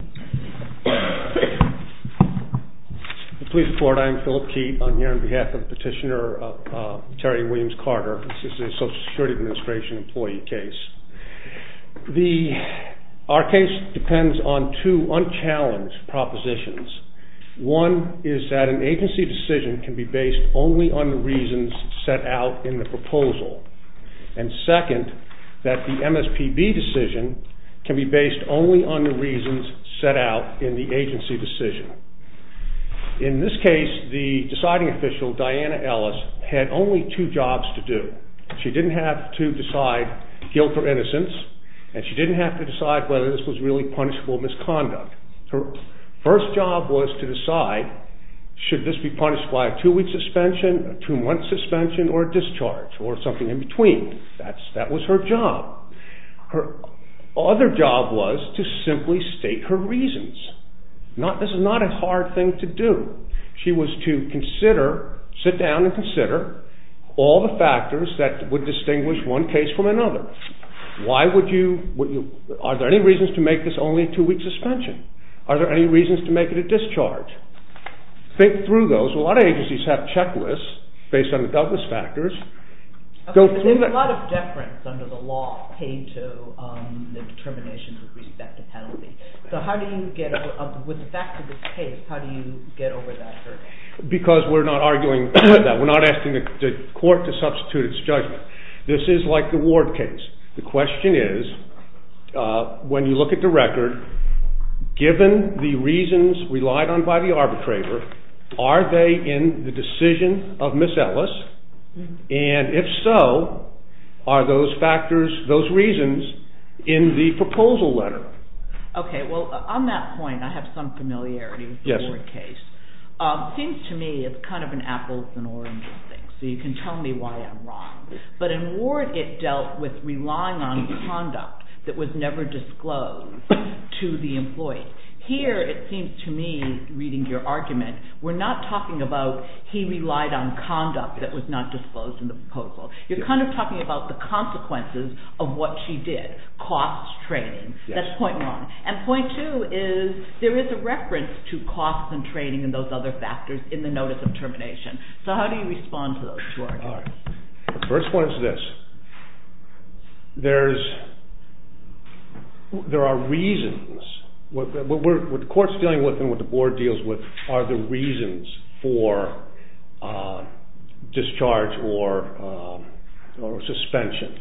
case. Police report, I'm Philip Keat. I'm here on behalf of Petitioner Terry Williams- Carter, this is a Social Security Administration employee case. Our case depends on two unchallenged propositions. One is that an agency decision can be based only on the reasons set out in the proposal and second that the MSPB decision can be based only on the reasons set out in the agency decision. In this case the deciding official Diana Ellis had only two jobs to do. She didn't have to decide guilt or innocence and she didn't have to decide whether this was really punishable misconduct. Her first job was to decide should this be punished by a two-week suspension, two-month suspension or a discharge or something in between. That was her job. Her other job was to simply state her reasons. This is not a hard thing to do. She was to consider, sit down and consider, all the factors that would distinguish one case from another. Why would you, are there any reasons to make this only a two-week suspension? Are there any reasons to make it a discharge? Think through those. A lot of agencies have checklists based on the doubtless factors. There's a lot of deference under the law paid to the determinations with respect to penalty. So how do you get over, with the fact of this case, how do you get over that hurdle? Because we're not arguing that. We're not asking the court to substitute its judgment. This is like the Ward case. The question is when you look at the record given the reasons relied on by the arbitrator, are they in the decision of Ms. Ellis? And if so, are those factors, those reasons, in the proposal letter? Okay, well on that point I have some familiarity with the Ward case. Seems to me it's kind of an apples and oranges thing. So you can tell me why I'm wrong. But in Ward it dealt with relying on conduct that was never disclosed to the employee. Here it seems to me, reading your argument, we're not talking about he relied on conduct that was not disclosed in the proposal. You're kind of talking about the consequences of what she did. Costs, training. That's point one. And point two is there is a reference to costs and training and those other factors in the notice of termination. So how do you respond to those two arguments? The first one is this. There are reasons. What the court's dealing with and what the Board deals with are the reasons for discharge or suspension.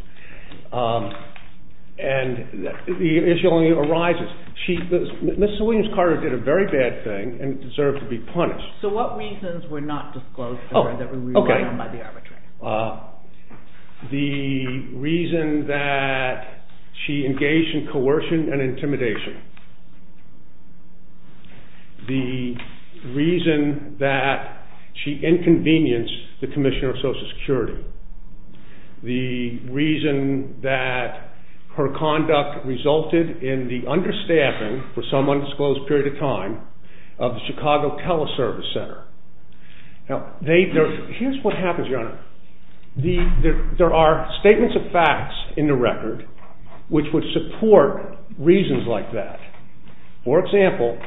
And the issue only arises. Ms. Williams-Carter did a very bad thing and deserved to be punished. So what reasons were not disclosed to her that were relied on by the arbitrator? The reason that she engaged in coercion and intimidation. The reason that she inconvenienced the Commissioner of Social Security. The reason that her conduct resulted in the understaffing for some undisclosed period of time of the Chicago Teleservice Center. Here's what happens, Your Honor. There are statements of facts in the record which would support reasons like that. For example,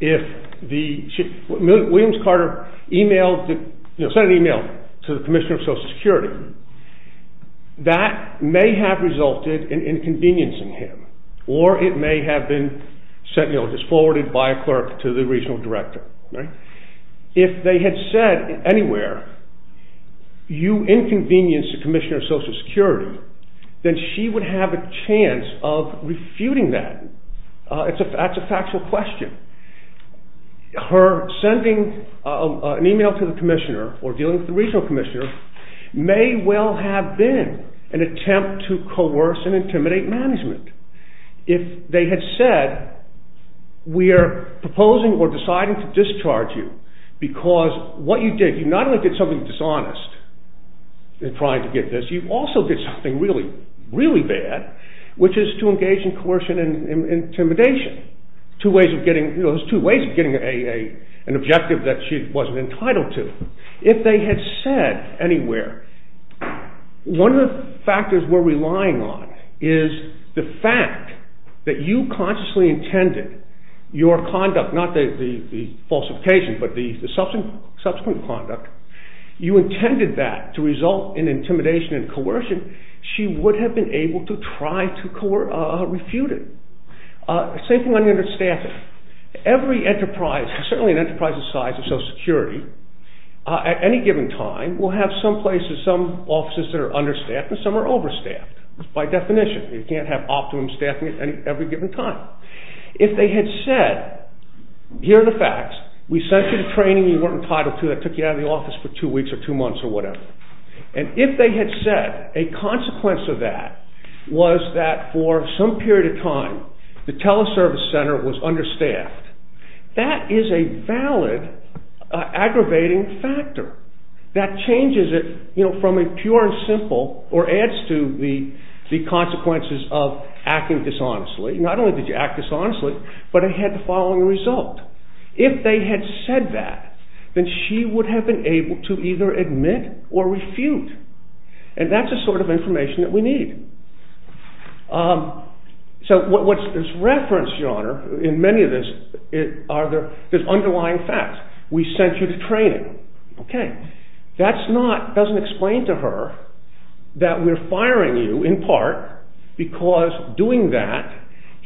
if Ms. Williams-Carter sent an email to the Commissioner of Social Security, that may have resulted in inconveniencing him. Or it may have been forwarded by a clerk to the Regional Director. If they had said anywhere, you inconvenienced the Commissioner of Social Security, then she would have a chance of refuting that. That's a factual question. Her sending an email to the Commissioner or dealing with the Regional Commissioner may well have been an attempt to coerce and intimidate management. If they had said, we are proposing or deciding to discharge you because what you did, you not only did something dishonest in trying to get this, you also did something really, really bad, which is to engage in coercion and intimidation. There's two ways of getting an objective that she wasn't entitled to. If they had said anywhere, one of the factors we're relying on is the fact that you consciously intended your conduct, not the falsification, but the subsequent conduct, you intended that to result in intimidation and coercion, she would have been able to try to refute it. Same thing under staffing. Every enterprise, certainly an enterprise the size of Social Security, at any given time will have some places, some offices that are understaffed and some are overstaffed. By definition, you can't have optimum staffing at every given time. If they had said, here are the facts, we sent you to training, you weren't entitled to it, took you out of the office for two weeks or two months or whatever, and if they had said a consequence of that was that for some period of time the Teleservice Center was understaffed, that is a valid aggravating factor that changes it from a pure and simple or adds to the consequences of acting dishonestly. Not only did you act dishonestly, but it had the following result. If they had said that, then she would have been able to either admit or refute. And that's the sort of information that we need. So what's referenced, Your Honor, in many of this, are the underlying facts. We sent you to training. That doesn't explain to her that we're firing you in part because doing that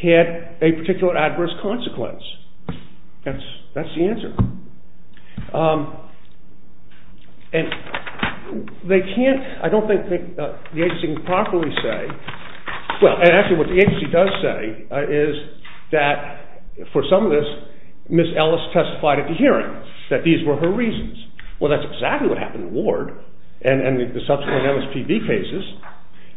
had a particular adverse consequence. That's the answer. And they can't, I don't think the agency can properly say, well actually what the agency does say is that for some of this, Ms. Ellis testified at the hearing that these were her reasons. Well, that's exactly what happened in Ward and the subsequent MSPB cases.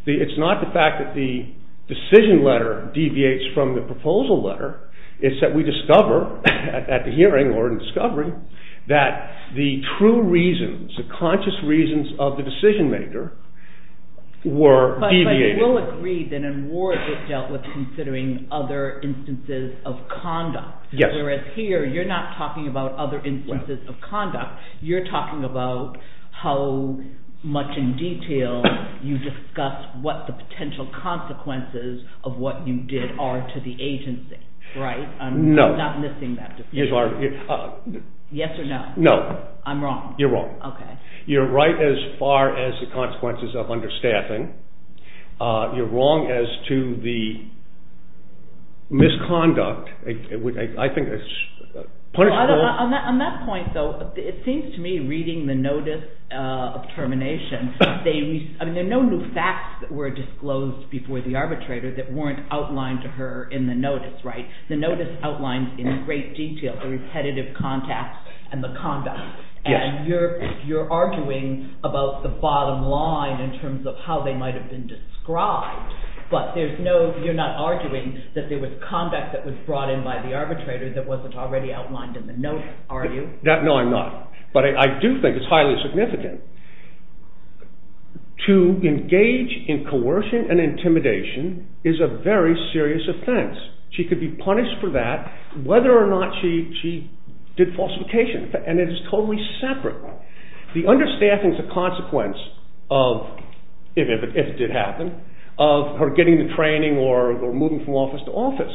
It's not the fact that the decision letter deviates from the proposal letter. It's that we discover at the hearing or in discovery that the true reasons, the conscious reasons of the decision maker were deviating. But we will agree that in Ward it dealt with considering other instances of conduct. Whereas here you're not talking about other instances of conduct. You're talking about how much in detail you discussed what the potential consequences of what you did are to the agency. No. I'm not missing that decision. Yes or no? No. I'm wrong. You're wrong. Okay. You're right as far as the consequences of understaffing. You're wrong as to the misconduct. On that point though, it seems to me reading the notice of termination, there are no new facts that were disclosed before the arbitrator that weren't outlined to her in the notice, right? The notice outlines in great detail the repetitive contacts and the conduct. And you're arguing about the bottom line in terms of how they might have been described, but you're not arguing that there was conduct that was brought in by the arbitrator that wasn't already outlined in the notice, are you? No, I'm not. But I do think it's highly significant. To engage in coercion and intimidation is a very serious offense. She could be punished for that whether or not she did falsification, and it is totally separate. The understaffing is a consequence of, if it did happen, of her getting the training or moving from office to office.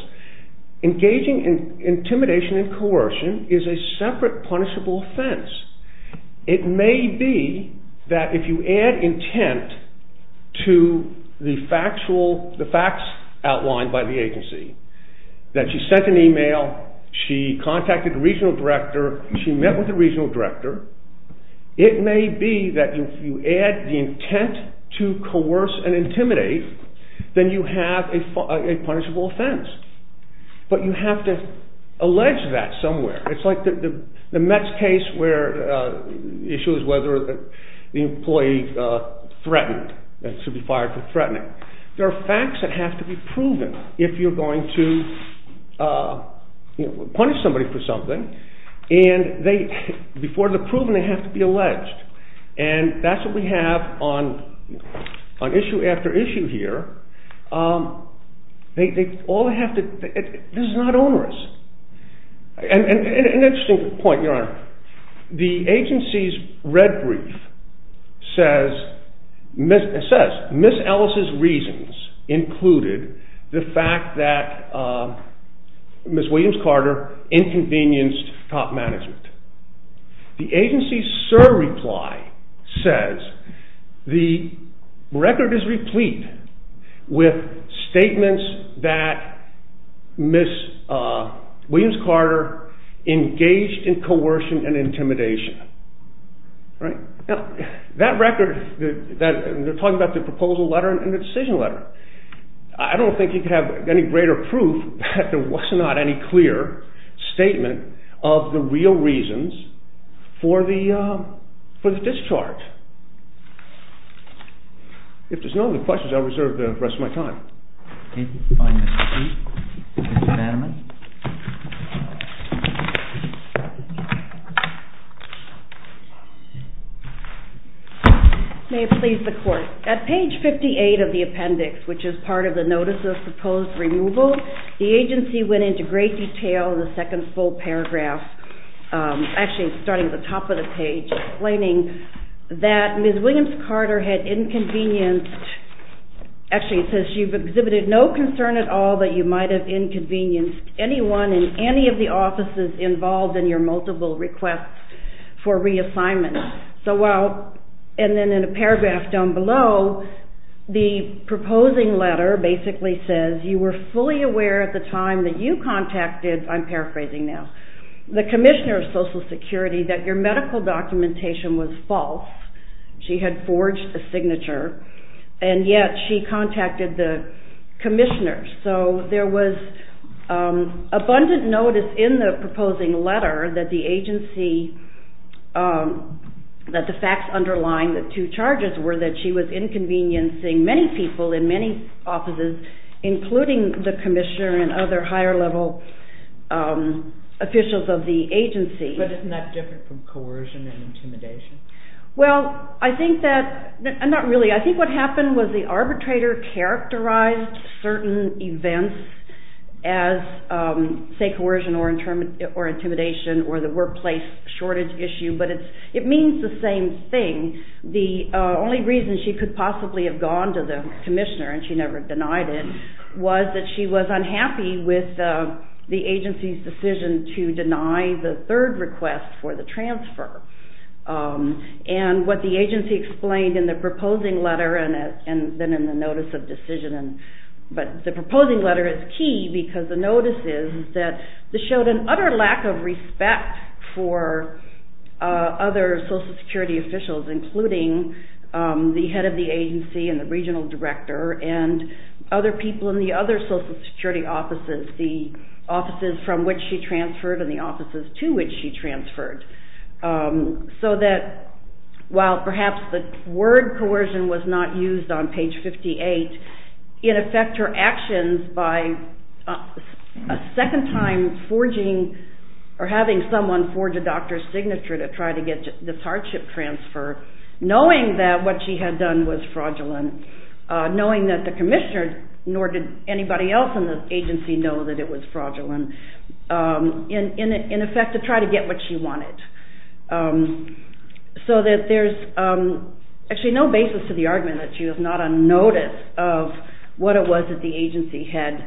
Engaging in intimidation and coercion is a separate punishable offense. It may be that if you add intent to the facts outlined by the agency, that she sent an email, she contacted the regional director, she met with the regional director, it may be that if you add the intent to coerce and intimidate, then you have a punishable offense. But you have to allege that somewhere. It's like the Mets case where the issue is whether the employee threatened and should be fired for threatening. There are facts that have to be proven if you're going to punish somebody for something, and before they're proven, they have to be alleged. And that's what we have on issue after issue here. This is not onerous. An interesting point, Your Honor. The agency's red brief says, Ms. Ellis' reasons included the fact that Ms. Williams-Carter inconvenienced top management. The agency's surreply says the record is replete with statements that Ms. Williams-Carter engaged in coercion and intimidation. That record, they're talking about the proposal letter and the decision letter. I don't think you could have any greater proof that there was not any clear statement of the real reasons for the discharge. If there's no other questions, I reserve the rest of my time. At page 58 of the appendix, which is part of the notice of proposed removal, the agency went into great detail in the second full paragraph, actually starting at the top of the page, explaining that Ms. Williams-Carter had inconvenienced, actually it says she's exhibited no concern at all that you might have inconvenienced anyone in any of the offices involved in your multiple requests for reassignment. And then in a paragraph down below, the proposing letter basically says, you were fully aware at the time that you contacted, I'm paraphrasing now, the Commissioner of Social Security that your medical documentation was false. She had forged a signature, and yet she contacted the Commissioner. So there was abundant notice in the proposing letter that the agency, that the facts underlying the two charges were that she was inconveniencing many people in many offices, including the Commissioner and other higher level officials of the agency. But isn't that different from coercion and intimidation? Well, I think that, not really, I think what happened was the arbitrator characterized certain events as say coercion or intimidation or the workplace shortage issue, but it means the same thing. The only reason she could possibly have gone to the Commissioner, and she never denied it, was that she was unhappy with the agency's decision to deny the third request for the transfer. And what the agency explained in the proposing letter and then in the notice of decision, but the proposing letter is key because the notice is that this showed an utter lack of respect for other Social Security officials, including the head of the agency and the regional director and other people in the other Social Security offices, the offices from which she transferred and the offices to which she transferred. So that while perhaps the word coercion was not used on page 58, it affected her actions by a second time forging or having someone forge a doctor's signature to try to get this hardship transfer, knowing that what she had done was fraudulent, knowing that the Commissioner, nor did anybody else in the agency know that it was fraudulent, in effect to try to get what she wanted. So that there's actually no basis to the argument that she was not on notice of what it was that the agency had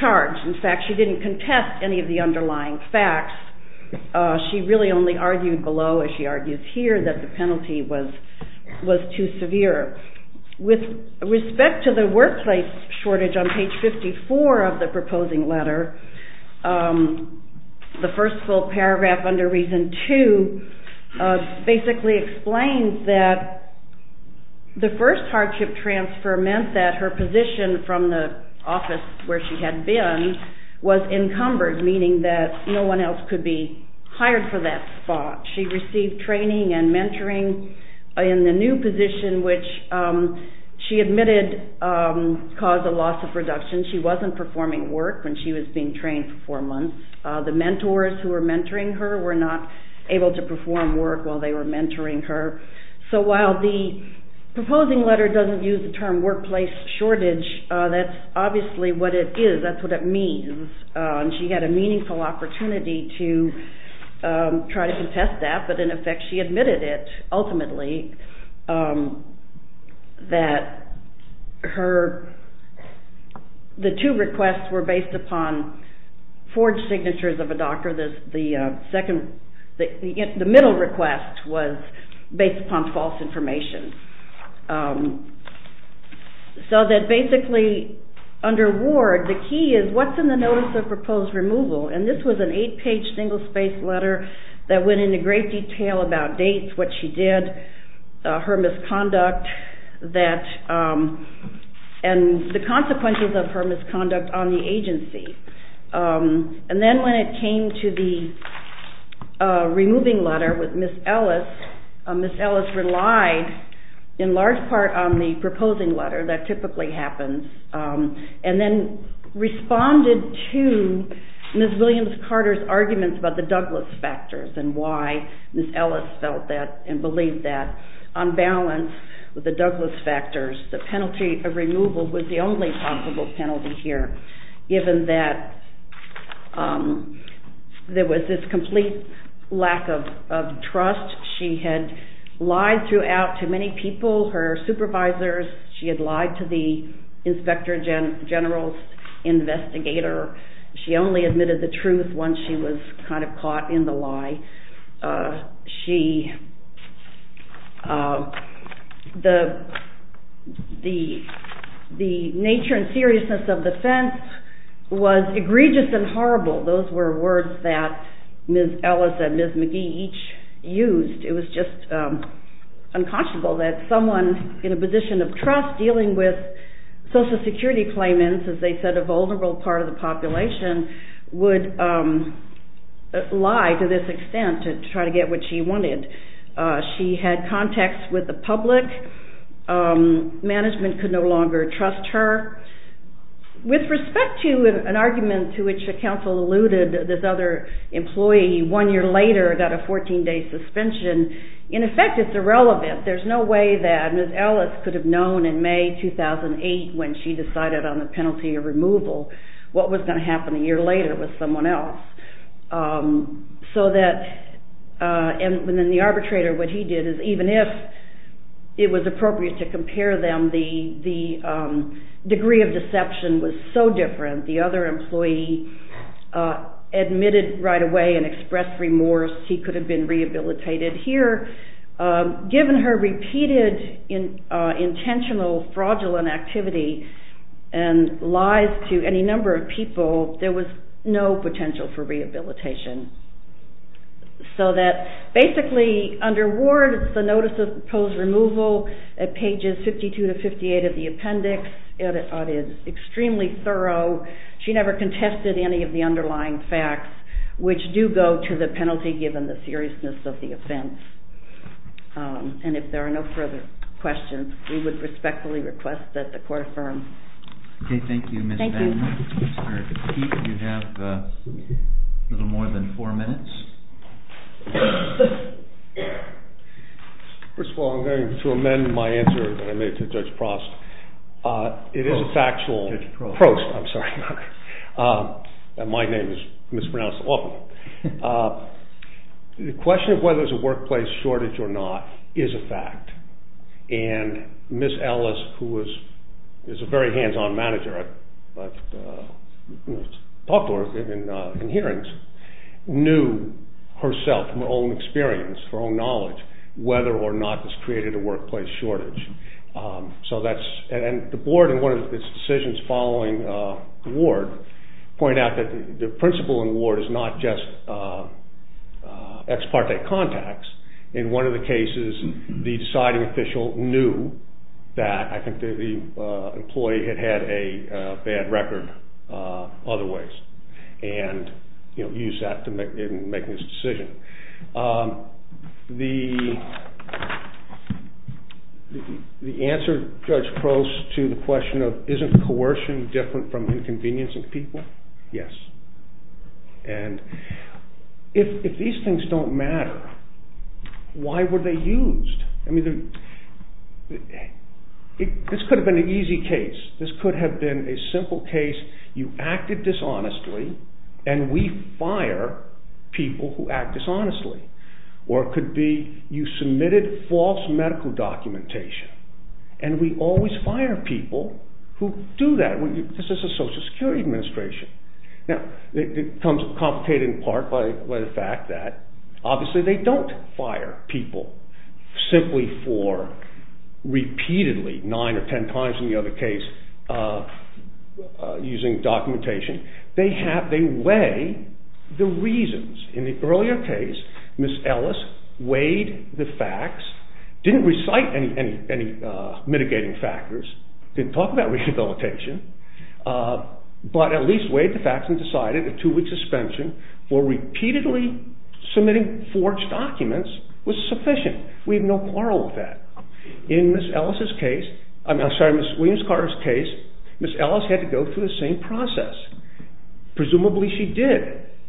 charged. In fact, she didn't contest any of the underlying facts. She really only argued below, as she argues here, that the penalty was too severe. With respect to the workplace shortage on page 54 of the proposing letter, the first full paragraph under Reason 2 basically explains that the first hardship transfer meant that her position from the office where she had been was encumbered, meaning that no one else could be hired for that spot. She received training and mentoring in the new position, which she admitted caused a loss of production. She wasn't performing work when she was being trained for four months. The mentors who were mentoring her were not able to perform work while they were mentoring her. So while the proposing letter doesn't use the term workplace shortage, that's obviously what it is, that's what it means. She had a meaningful opportunity to try to contest that, but in effect she admitted it, ultimately, that the two requests were based upon forged signatures of a doctor. The middle request was based upon false information. So that basically, under Ward, the key is what's in the Notice of Proposed Removal? And this was an eight-page, single-spaced letter that went into great detail about dates, what she did, her misconduct, and the consequences of her misconduct on the agency. And then when it came to the removing letter with Ms. Ellis, Ms. Ellis relied in large part on the proposing letter. That typically happens. And then responded to Ms. Williams-Carter's arguments about the Douglas factors and why Ms. Ellis felt that and believed that. On balance with the Douglas factors, the penalty of removal was the only possible penalty here, given that there was this complete lack of trust. She had lied throughout to many people, her supervisors. She had lied to the Inspector General's investigator. She only admitted the truth once she was kind of caught in the lie. The nature and seriousness of the offense was egregious and horrible. Those were words that Ms. Ellis and Ms. McGee each used. It was just unconscionable that someone in a position of trust dealing with Social Security claimants, as they said a vulnerable part of the population, would lie to this extent to try to get what she wanted. She had contacts with the public. Management could no longer trust her. With respect to an argument to which the counsel alluded, this other employee, one year later got a 14-day suspension. In effect, it's irrelevant. There's no way that Ms. Ellis could have known in May 2008 when she decided on the penalty of removal what was going to happen a year later with someone else. And then the arbitrator, what he did is, even if it was appropriate to compare them, the degree of deception was so different. The other employee admitted right away and expressed remorse. He could have been rehabilitated. Here, given her repeated intentional fraudulent activity and lies to any number of people, there was no potential for rehabilitation. So that basically, under Ward, the notice of proposed removal at pages 52 to 58 of the appendix, it is extremely thorough. She never contested any of the underlying facts, which do go to the penalty, given the seriousness of the offense. And if there are no further questions, we would respectfully request that the Court affirm. Okay, thank you, Ms. Vann. You have a little more than four minutes. First of all, I'm going to amend my answer that I made to Judge Prost. It is a factual approach. I'm sorry. My name is mispronounced often. The question of whether there's a workplace shortage or not is a fact. And Ms. Ellis, who is a very hands-on manager, I've talked to her in hearings, knew herself from her own experience, her own knowledge, whether or not this created a workplace shortage. And the Board, in one of its decisions following Ward, pointed out that the principle in Ward is not just ex parte contacts. In one of the cases, the deciding official knew that the employee had had a bad record otherwise and used that in making this decision. The answer, Judge Prost, to the question of isn't coercion different from inconvenience of people? Yes. And if these things don't matter, why were they used? I mean, this could have been an easy case. This could have been a simple case. You acted dishonestly, and we fire people who act dishonestly. Or it could be you submitted false medical documentation, and we always fire people who do that. This is a Social Security Administration. Now, it becomes complicated in part by the fact that obviously they don't fire people simply for repeatedly, nine or ten times in the other case, using documentation. They weigh the reasons. In the earlier case, Ms. Ellis weighed the facts, didn't recite any mitigating factors, didn't talk about rehabilitation, but at least weighed the facts and decided a two-week suspension for repeatedly submitting forged documents was sufficient. We have no quarrel with that. In Ms. Ellis's case, I'm sorry, Ms. Williams-Carter's case, Ms. Ellis had to go through the same process. Presumably she did,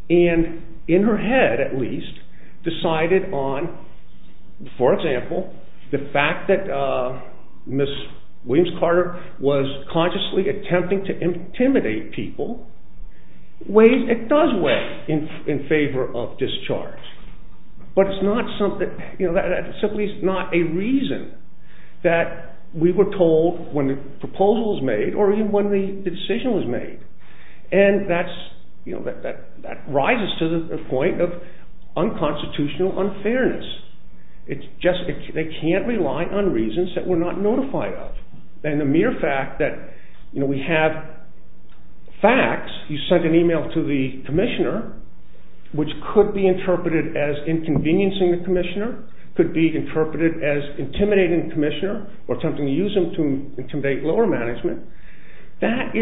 and in her head, at least, decided on, for example, the fact that Ms. Williams-Carter was consciously attempting to intimidate people, it does weigh in favor of discharge. But it's simply not a reason that we were told when the proposal was made or even when the decision was made. And that rises to the point of unconstitutional unfairness. They can't rely on reasons that we're not notified of. And the mere fact that we have facts, you sent an email to the commissioner, which could be interpreted as inconveniencing the commissioner, could be interpreted as intimidating the commissioner or attempting to use him to intimidate lower management, that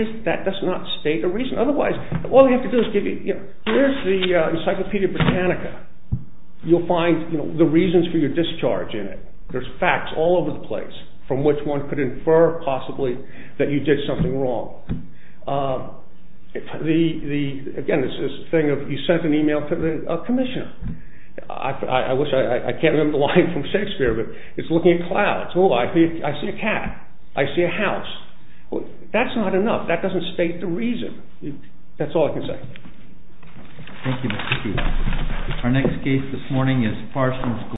does not state a reason. Otherwise, all you have to do is give you, here's the Encyclopedia Britannica. You'll find the reasons for your discharge in it. There's facts all over the place from which one could infer, possibly, that you did something wrong. Again, it's this thing of you sent an email to the commissioner. I can't remember the line from Shakespeare, but it's looking at clouds. Oh, I see a cat. I see a house. That's not enough. That doesn't state the reason. That's all I can say. Thank you, Mr. Chief.